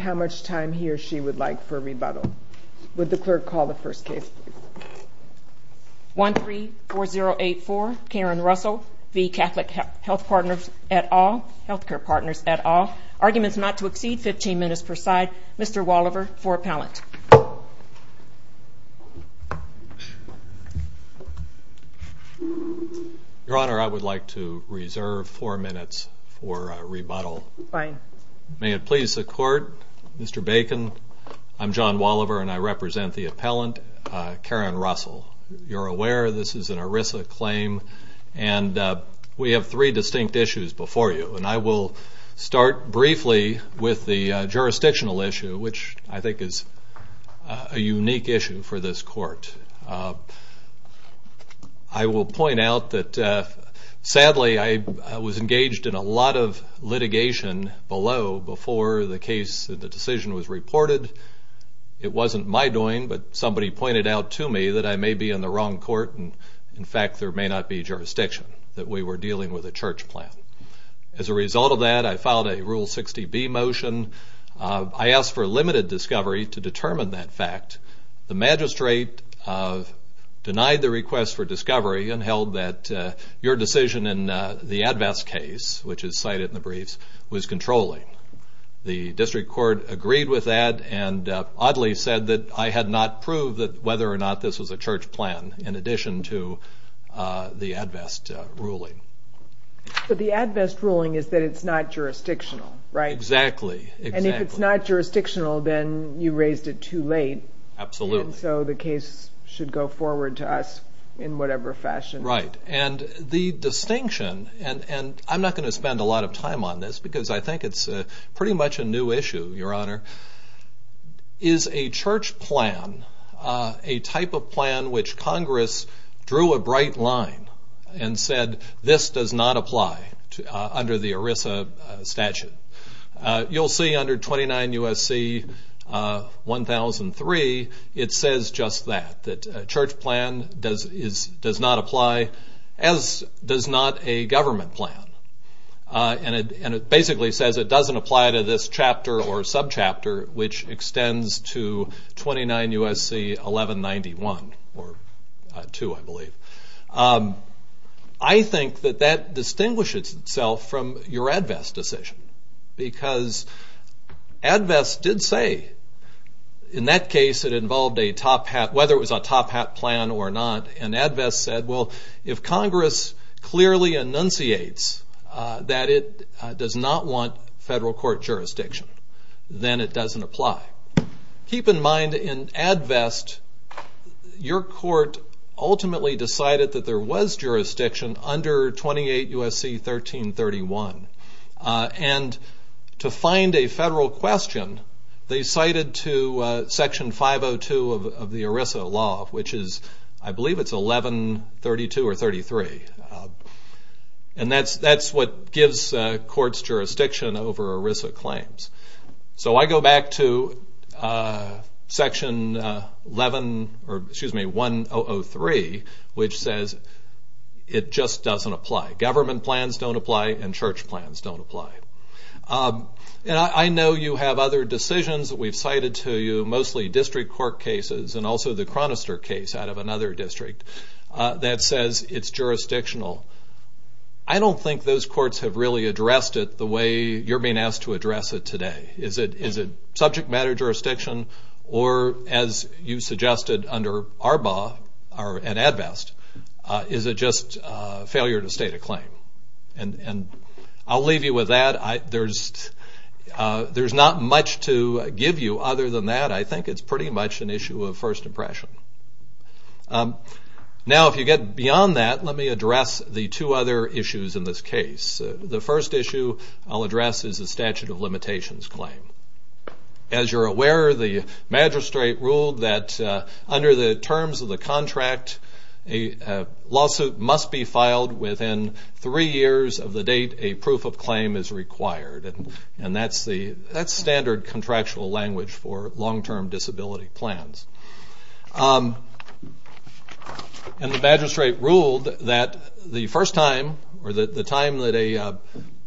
how much time he or she would like for a rebuttal. Would the clerk call the first case please? 134084 Karen Russell v. Catholic Health Partners at all Healthcare Partners at all Arguments not to exceed fifteen minutes per side Mr. Wallover for appellant Your Honor, I would like to reserve four minutes for a rebuttal. Fine. May it please the court Mr. Bacon I'm John Wallover and I represent the appellant Karen Russell. You're aware this is an ERISA claim and uh... we have three distinct issues before you and I will start briefly with the jurisdictional issue which I think is a unique issue for this court. I will point out that uh... also before the case that the decision was reported it wasn't my doing but somebody pointed out to me that I may be in the wrong court and in fact there may not be jurisdiction that we were dealing with a church plan. As a result of that I filed a rule sixty B motion uh... I asked for limited discovery to determine that fact the magistrate denied the request for discovery and held that uh... their decision in the ADVEST case which is cited in the briefs was controlling. The district court agreed with that and uh... oddly said that I had not proved that whether or not this was a church plan in addition to uh... the ADVEST ruling. But the ADVEST ruling is that it's not jurisdictional, right? Exactly. And if it's not jurisdictional then you raised it too late. Absolutely. And so the case should go forward to us in whatever fashion. Right. And the distinction and and I'm not going to spend a lot of time on this because I think it's a pretty much a new issue your honor is a church plan uh... a type of plan which congress drew a bright line and said this does not apply under the ERISA statute. You'll see under twenty nine USC uh... one thousand three it says just that. That a church plan does not apply as does not a government plan. And it basically says it doesn't apply to this chapter or subchapter which extends to twenty nine USC eleven ninety one or two I believe. I think that that distinguishes itself from your ADVEST decision because ADVEST did say in that case it involved a top hat whether it was a top hat plan or not and ADVEST said well if congress clearly enunciates uh... that it does not want federal court jurisdiction then it doesn't apply. Keep in mind in ADVEST your court ultimately decided that there was jurisdiction under twenty eight USC thirteen thirty one uh... and to find a federal question they cited to uh... section five oh two of the ERISA law which is I believe it's eleven thirty two or thirty three and that's that's what gives uh... courts jurisdiction over ERISA claims. So I go back to uh... section eleven or excuse me one oh oh three which says it just doesn't apply. Government plans don't apply and church plans don't apply. And I know you have other decisions that we've cited to you mostly district court cases and also the Chronister case out of another district uh... that says it's jurisdictional. I don't think those courts have really addressed it the way you're being asked to address it today. Is it subject matter jurisdiction or as you suggested under ARBA or at ADVEST uh... is it just uh... failure to state a claim? And I'll leave you with that. There's uh... there's not much to give you other than that. I think it's pretty much an issue of first impression. Now if you get beyond that let me address the two other issues in this case. The first issue I'll address is the statute of limitations claim. As you're aware the magistrate ruled that uh... under the terms of the contract a lawsuit must be filed within three years of the date a proof of claim is required. And that's the standard contractual language for long-term disability plans. And the magistrate ruled that the first time or the time that a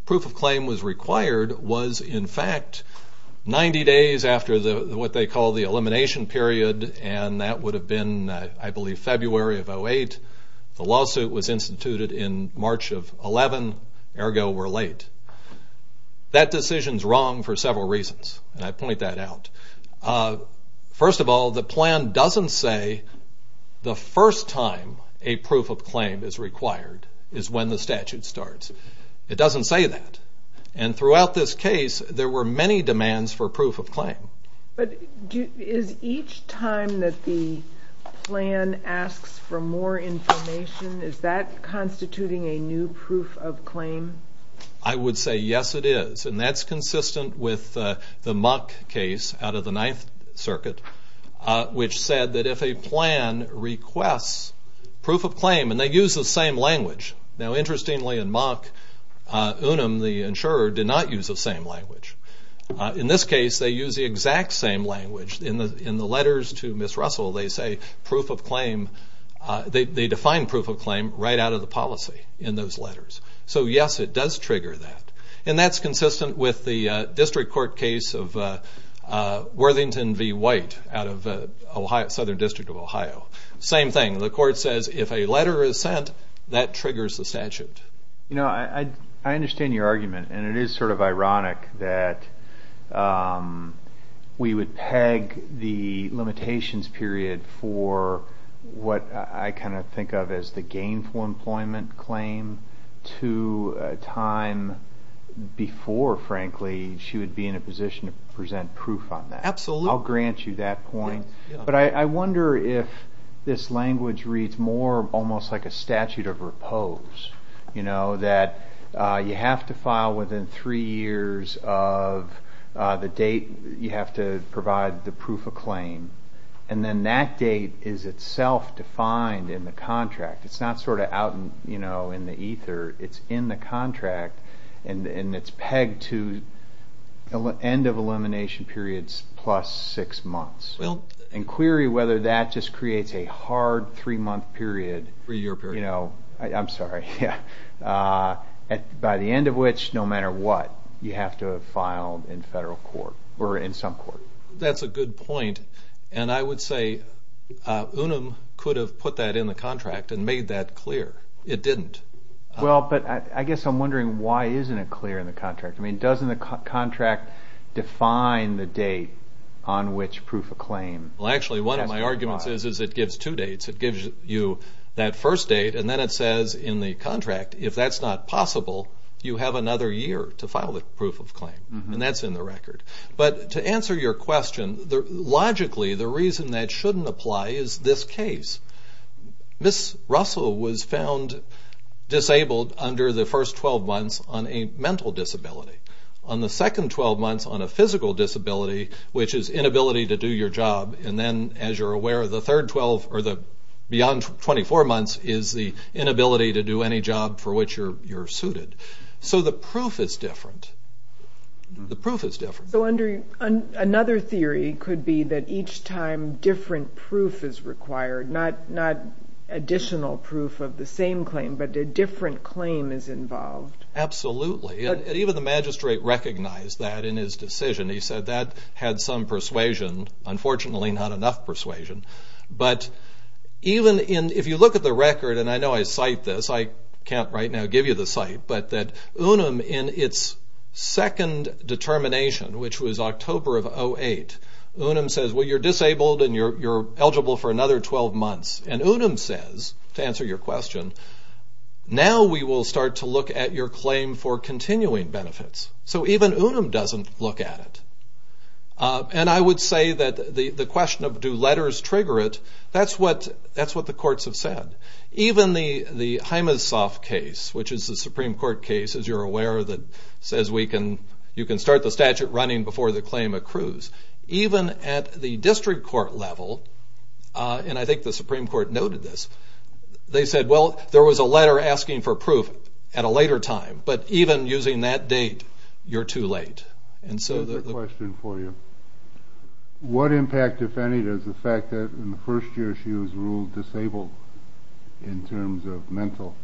proof of claim was required was in fact ninety days after the what they call the elimination period and that would have been uh... I believe February of 08. The lawsuit was instituted in March of 11 ergo we're late. That decision's wrong for several reasons and I point that out. First of all the plan doesn't say the first time a proof of claim is required is when the statute starts. It doesn't say that. And throughout this case there were many demands for proof of claim. But is each time that the plan asks for more information is that constituting a new proof of claim? I would say yes it is and that's consistent with the Mock case out of the Ninth Circuit uh... which said that if a plan requests proof of claim and they use the same language. Now interestingly in Mock uh... Unum the insurer did not use the same language. In this case they use the exact same language in the in the letters to Miss Russell they say proof of claim uh... they define proof of claim right out of the policy in those letters. So yes it does trigger that and that's consistent with the uh... District Court case of uh... uh... Worthington v. White out of uh... Southern District of Ohio. Same thing the court says if a letter is sent that triggers the statute. You know I understand your argument and it is sort of ironic that uh... we would peg the limitations period for what I kind of think of as the gainful employment claim to uh... time before frankly she would be in a position to present proof on that. Absolutely. I'll grant you that point but I I wonder if this language reads more almost like a statute of repose you know that uh... you have to file within three years of uh... the date you have to provide the proof of claim and then that date is itself defined in the contract it's not sort of out you know in the ether it's in the contract and and it's pegged to end of elimination periods plus six months. Well. And query whether that just creates a hard three month period. Three year period. You know I'm sorry yeah uh... at by the end of which no matter what you have to have filed in federal court or in some court. That's a good point and I would say uh... UNUM could have put that in the contract and made that clear it didn't. Well but I guess I'm wondering why isn't it clear in the contract I mean doesn't the contract define the date on which proof of claim. Well actually one of my arguments is it gives two dates it gives you that first date and then it says in the contract if that's not possible you have another year to file the proof of claim and that's in the record. But to answer your question logically the reason that shouldn't apply is this case. Ms. Russell was found disabled under the first twelve months on a mental disability. On the second twelve months on a physical disability which is inability to do your job and then as you're aware the third twelve or the beyond twenty four months is the inability to do any job for which you're you're suited. So the proof is different. The proof is different. So under another theory could be that each time different proof is required not additional proof of the same claim but a different claim is involved. Absolutely and even the magistrate recognized that in his decision he said that had some persuasion unfortunately not enough persuasion. But even in if you look at the record and I know I cite this I can't right now give you the site but that Unum in its second determination which was October of 08 Unum says well you're disabled and you're eligible for another twelve months and Unum says to answer your question now we will start to look at your claim for continuing benefits. So even Unum doesn't look at it. And I would say that the the question of do letters trigger it that's what that's what the courts have said. Even the the Himesoft case which is the Supreme Court case as you're aware that says we can you can start the statute running before the claim accrues. Even at the district court level and I think the Supreme Court noted this they said well there was a letter asking for proof at a later time but even using that date you're too late. And so the question for you what impact if any does the fact that in the first year she was ruled disabled in terms of mental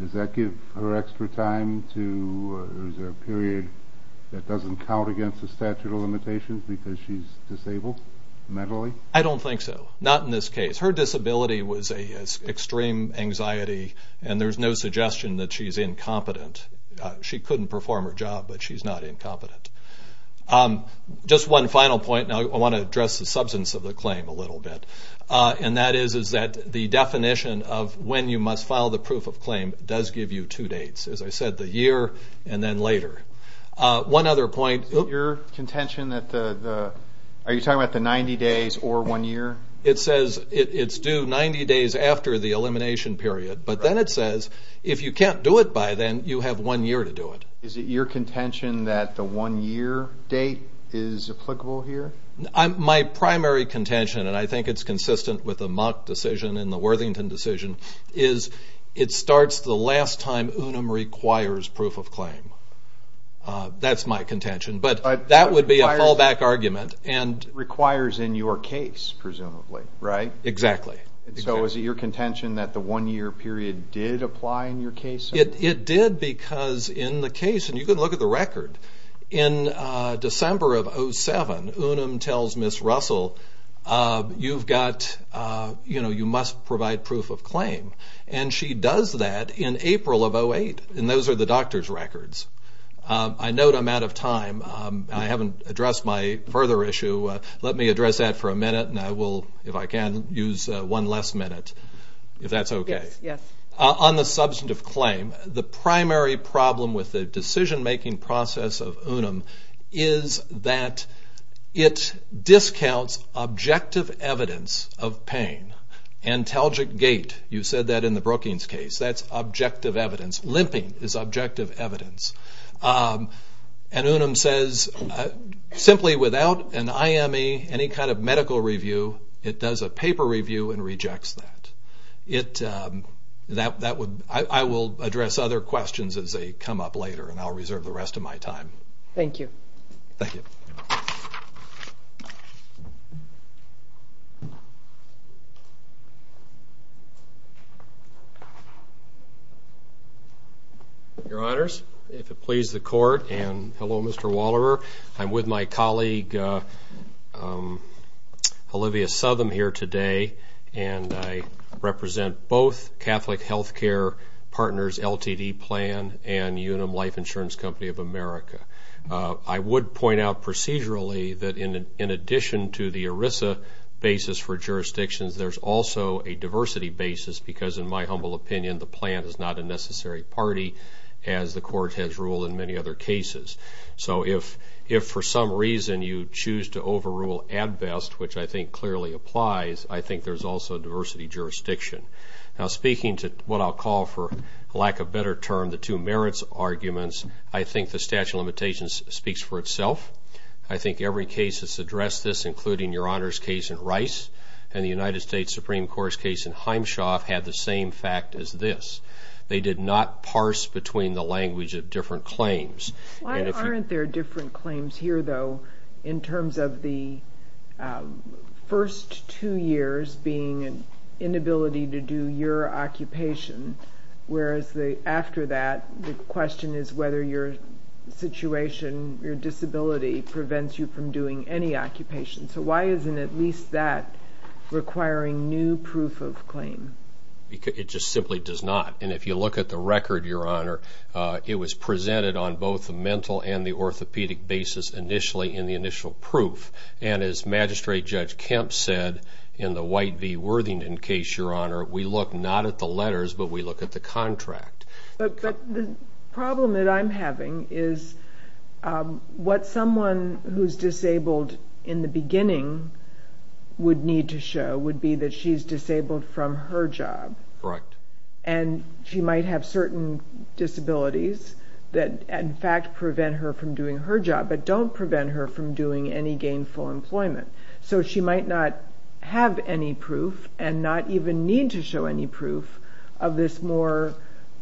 does that give her extra time to is there a period that doesn't count against the statute of limitations because she's disabled mentally? I don't think so not in this case her disability was a extreme anxiety and there's no suggestion that she's incompetent she couldn't perform her job but she's not incompetent. Just one final point I want to address the substance of the claim a little bit and that is is that the definition of when you must file the proof of claim does give you two dates as I said the year and then later. One other point. Your contention that the are you talking about the ninety days or one year? It says it's due ninety days after the elimination period but then it says if you can't do it by then you have one year to do it. Is it your contention that the one year date is applicable here? My primary contention and I think it's consistent with the Mock decision and the Worthington decision is it starts the last time Unum requires proof of claim. That's my contention but that would be a fallback argument and requires in your case presumably, right? Exactly. So is it your contention that the one year period did apply in your case? It did because in the case and you can look at the record in December of 07 Unum tells Ms. Russell you've got, you know, you must provide proof of claim and she does that in April of 08 and those are the doctor's records. I note I'm out of time. I haven't addressed my further issue. Let me address that for a minute and I will, if I can, use one last minute if that's okay. On the substantive claim, the primary problem with the decision-making process of Unum is that it discounts objective evidence of pain. Antalgic gait, you said that in the Brookings case, that's objective evidence. Limping is objective evidence. And Unum says simply without an IME, any kind of medical review, it does a paper review and rejects that. It, that would, I will address other questions as they come up later and I'll reserve the rest of my time. Thank you. Thank you. Your Honors, if it please the court and hello Mr. Waller, I'm with my colleague Olivia Southam here today and I represent both Catholic Health Care Partners LTD plan and Unum Life Insurance Company of America. I would point out procedurally that in addition to the ERISA basis for jurisdictions, there's also a diversity basis because in my humble opinion the plan is not a necessary party as the court has ruled in many other cases. So if for some reason you choose to overrule ADVEST, which I think clearly applies, I think there's also diversity jurisdiction. Now speaking to what I'll call for, I think the statute of limitations speaks for itself. I think every case has addressed this, including Your Honors case in Rice and the United States Supreme Court's case in Heimshoff had the same fact as this. They did not parse between the language of different claims. Why aren't there different claims here though in terms of the first two years being inability to do your occupation whereas after that the question is whether your situation, your disability prevents you from doing any occupation. So why isn't at least that requiring new proof of claim? It just simply does not and if you look at the record, Your Honor, it was presented on both the mental and the orthopedic basis initially in the initial proof and as Magistrate Judge Kemp said in the White v. Worthington case, Your Honor, we look not at the letters but we look at the contract. But the problem that I'm having is what someone who's disabled in the beginning would need to show would be that she's disabled from her job. And she might have certain disabilities that in fact prevent her from doing her job but don't prevent her from doing any gainful employment. So she might not have any proof and not even need to show any proof of this more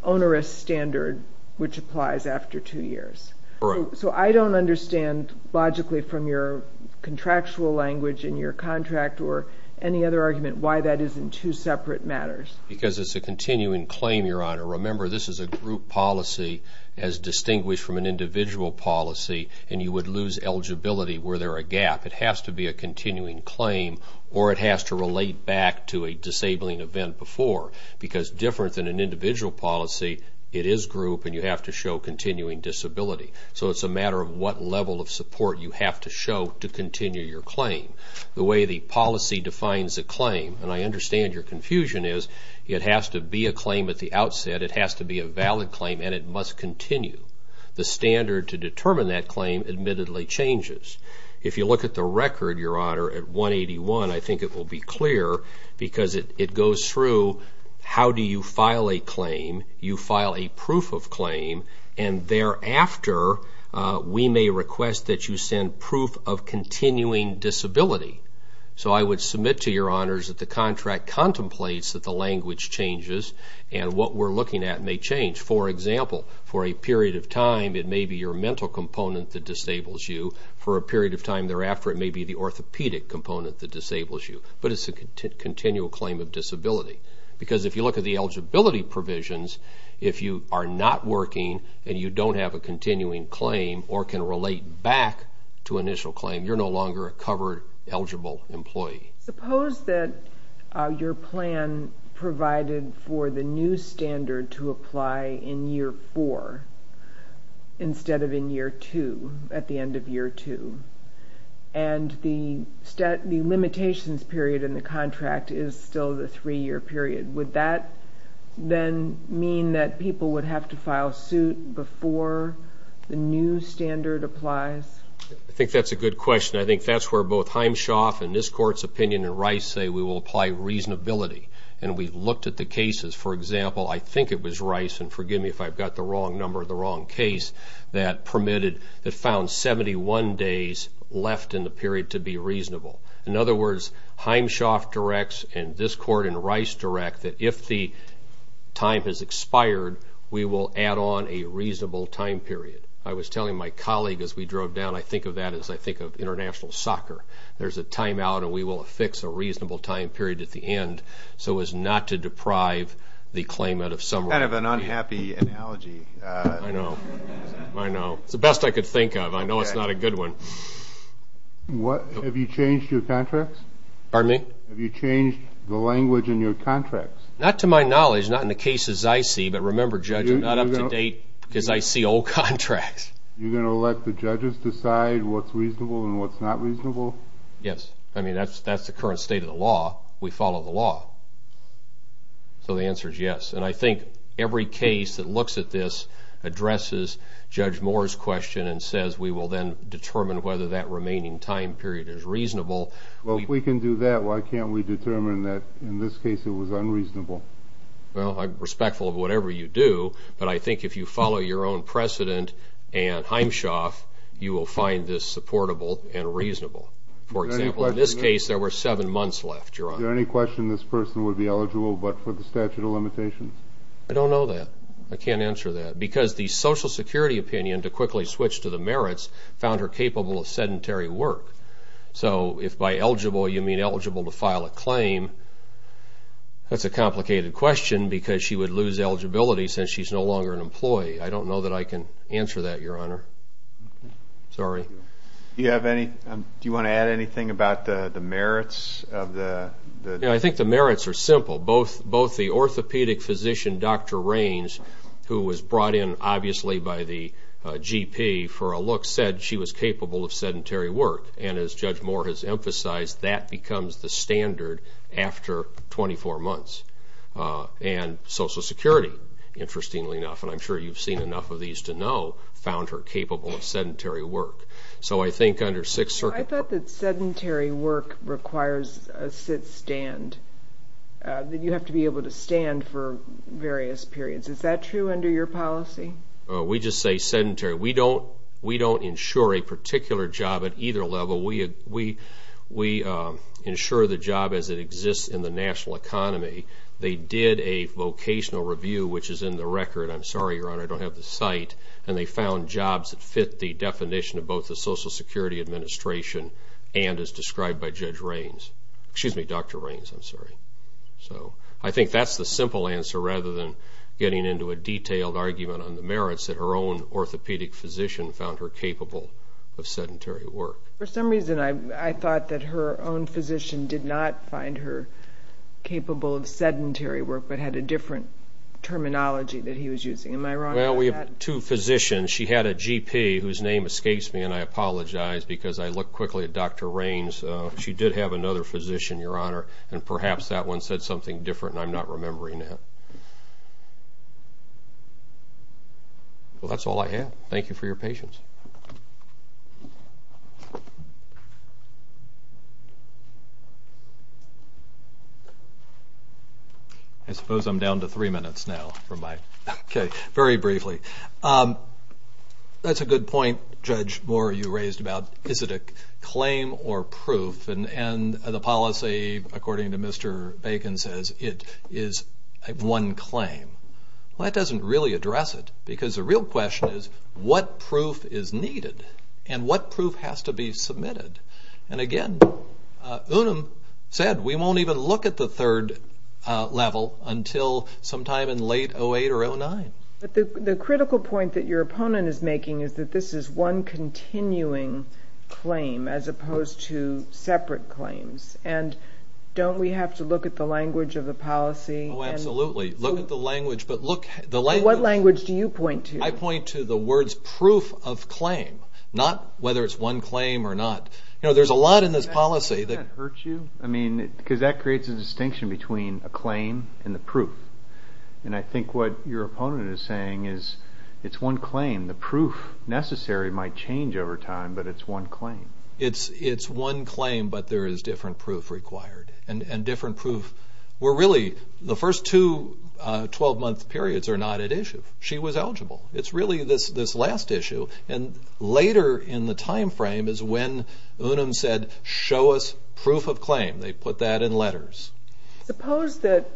onerous standard which applies after two years. So I don't understand logically from your contractual language in your contract or any other argument why that isn't two separate matters. Because it's a continuing claim, Your Honor. Remember this is a group policy as distinguished from an individual policy and you would lose eligibility where there is a gap. It has to be a continuing claim or it has to relate back to a disabling event before. Because different than an individual policy it is group and you have to show continuing disability. So it's a matter of what level of support you have to show to continue your claim. The way the policy defines a claim, and I understand your confusion, is it has to be a claim at the outset. It has to be a valid claim and it must continue. The standard to determine that claim admittedly changes. If you look at the record, Your Honor, at 181, I think it will be clear because it goes through how do you file a claim, you file a proof of claim, and thereafter we may request that you send proof of continuing disability. So I would submit to Your Honors that the contract contemplates that the language changes and what we're looking at may change. For example, for a period of time it may be your mental component that disables you. For a period of time thereafter it may be the orthopedic component that disables you. But it's a continual claim of disability. Because if you look at the eligibility provisions, if you are not working and you don't have a continuing claim or can relate back to initial claim, you're no longer a covered, eligible employee. Suppose that your plan provided for the new standard to apply in year four instead of in year two, at the end of year two, and the limitations period in the contract is still the three-year period. Would that then mean that people would have to file suit before the new standard applies? I think that's a good question. I think that's where both Heimschoff and this apply reasonability. And we've looked at the cases. For example, I think it was Rice, and forgive me if I've got the wrong number, the wrong case, that permitted, that found seventy-one days left in the period to be reasonable. In other words, Heimschoff directs and this court and Rice direct that if the time has expired, we will add on a reasonable time period. I was telling my colleague as we drove down, I think of that as I think of international soccer. There's a timeout and we will fix a reasonable time period at the end so as not to deprive the claimant of summary. Kind of an unhappy analogy. I know. It's the best I could think of. I know it's not a good one. Have you changed your contracts? Pardon me? Have you changed the language in your contracts? Not to my knowledge, not in the cases I see, but remember judge, I'm not up to date because I see old contracts. You're going to let the judges decide what's reasonable and what's not reasonable? Yes. I mean, that's the current state of the law. We follow the law. So the answer is yes. And I think every case that looks at this addresses Judge Moore's question and says we will then determine whether that remaining time period is reasonable. Well, if we can do that, why can't we determine that in this case it was unreasonable? Well, I'm respectful of whatever you do, but I think if you follow your own precedent and Heimschach, you will find this supportable and reasonable. For example, in this case there were seven months left, Your Honor. Is there any question this person would be eligible but for the statute of limitations? I don't know that. I can't answer that because the Social Security opinion, to quickly switch to the merits, found her capable of sedentary work. So if by eligible you mean eligible to file a claim, that's a complicated question because she would lose eligibility since she's no longer an employee. I don't know that I can answer that, Your Honor. Do you want to add anything about the merits? I think the merits are simple. Both the orthopedic physician, Dr. Raines, who was brought in obviously by the GP for a look, said she was capable of sedentary work. And as Judge Moore has said, she was a standard after twenty-four months. And Social Security, interestingly enough, and I'm sure you've seen enough of these to know, found her capable of sedentary work. So I think under Sixth Circuit... I thought that sedentary work requires a sit-stand. You have to be able to stand for various periods. Is that true under your policy? We just say sedentary. We don't insure a particular job at either level. We insure the job as it exists in the national economy. They did a vocational review, which is in the record. I'm sorry, Your Honor, I don't have the site. And they found jobs that fit the definition of both the Social Security Administration and as described by Judge Raines. Excuse me, Dr. Raines, I'm sorry. I think that's the simple answer rather than getting into a detailed argument on the merits that her own orthopedic physician found her capable of sedentary work. For some reason I thought that her own physician did not find her capable of sedentary work, but had a different terminology that he was using. Am I wrong about that? Well, we have two physicians. She had a GP whose name escapes me, and I apologize because I look quickly at Dr. Raines. She did have another physician, Your Honor, and perhaps that one said something different, and I'm not remembering it. Well, that's all I have. Thank you for your patience. I suppose I'm down to three minutes now. Okay, very briefly. That's a good point, Judge Moore, you raised about is it a claim or proof, and the policy, according to Mr. Bacon, says it is one claim. Well, that doesn't really address it, because the real question is what proof is needed and what proof has to be submitted? And again, Unum said we won't even look at the third level until sometime in late 08 or 09. But the critical point that your opponent is making is that this is one continuing claim as opposed to separate claims, and don't we have to look at the language of the policy? Oh, absolutely, look at the language, but look... What language do you point to? I point to the words proof of claim, whether it's one claim or not. You know, there's a lot in this policy that... Doesn't that hurt you? I mean, because that creates a distinction between a claim and the proof. And I think what your opponent is saying is it's one claim. The proof necessary might change over time, but it's one claim. It's one claim, but there is different proof required. And different proof... We're really... The first two twelve-month periods are not at issue. She was eligible. It's really this last issue. And later in the time frame is when Unum said, show us proof of claim. They put that in letters. Suppose that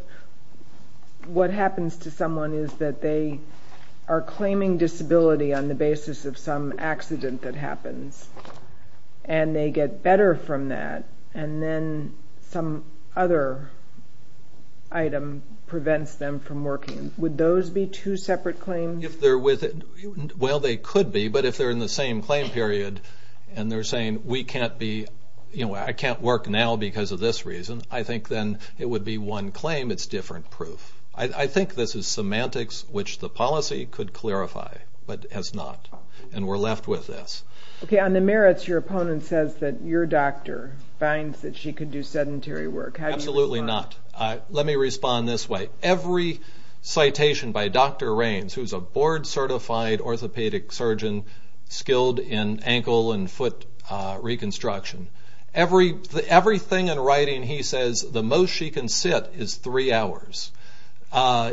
what happens to someone is that they are claiming disability on the basis of some accident that happens. And they get better from that. And then some other item prevents them from working. Would those be two separate claims? If they're with... Well, they could be, but if they're in the same claim period, and they're saying, we can't be... You know, I can't work now because of this reason, I think then it would be one claim. It's different proof. I think this is semantics, which the policy could clarify, but has not. And we're left with this. Okay, on the merits, your opponent says that your doctor finds that she could do sedentary work. How do you respond? Absolutely not. Let me respond this way. Every citation by Dr. Raines, who's a board-certified orthopedic surgeon skilled in ankle and foot reconstruction, everything in writing he says the most she can sit is three hours.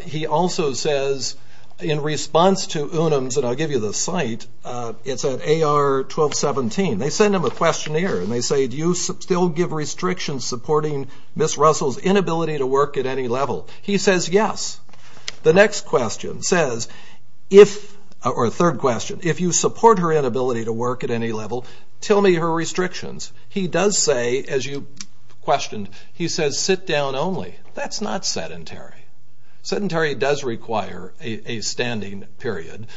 He also says in response to UNAMS, and I'll give you the site, it's at AR 1217. They send him a questionnaire, and they say, do you still give restrictions supporting Ms. Russell's inability to work at any level? He says, yes. The next question says, or third question, if you support her inability to work at any level, tell me her restrictions. He does say, as you questioned, he says sit down only. That's not sedentary. Sedentary does require a standing period,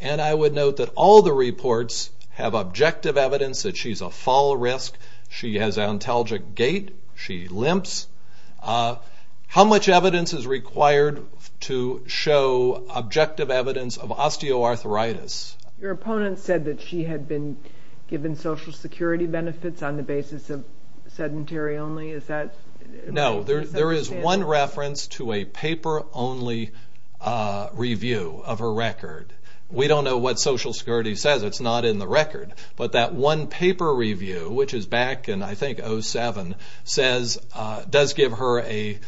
and I would note that all the reports have objective evidence that she's a fall risk. She has ontologic gait. She limps. How much evidence is required to show objective evidence of osteoarthritis? Your opponent said that she had been given Social Security benefits on the basis of sedentary only. Is that? No. There is one reference to a paper only review of her record. We don't know what Social Security says. It's not in the record, but that one paper review, which is back in, I think, 07, says, does give her a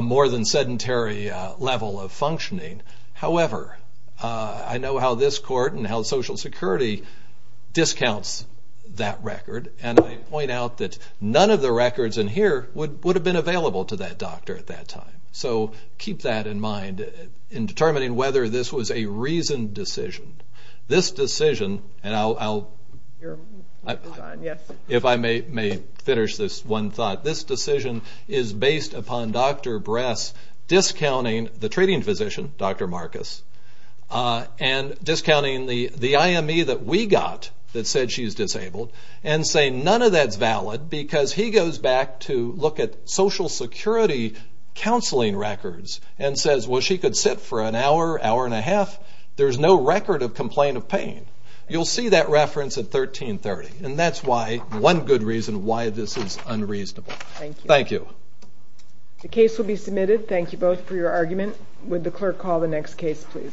more than sedentary level of functioning. However, I know how this court and how Social Security discounts that record, and I point out that none of the records in here would have been available to that doctor at that time. So keep that in mind in determining whether this was a reasoned decision. This decision, and I'll if I may finish this one thought, this decision is based upon Dr. Bress discounting the treating physician, Dr. Marcus, and discounting the IME that we got that said she's disabled, and saying none of that's valid because he goes back to look at Social Security counseling records and says, well, she could sit for an hour, hour and a half. There's no record of complaint of pain. You'll see that reference at 1330, and that's why, one good reason why this is unreasonable. Thank you. The case will be submitted. Thank you both for your argument. Would the clerk call the next case, please?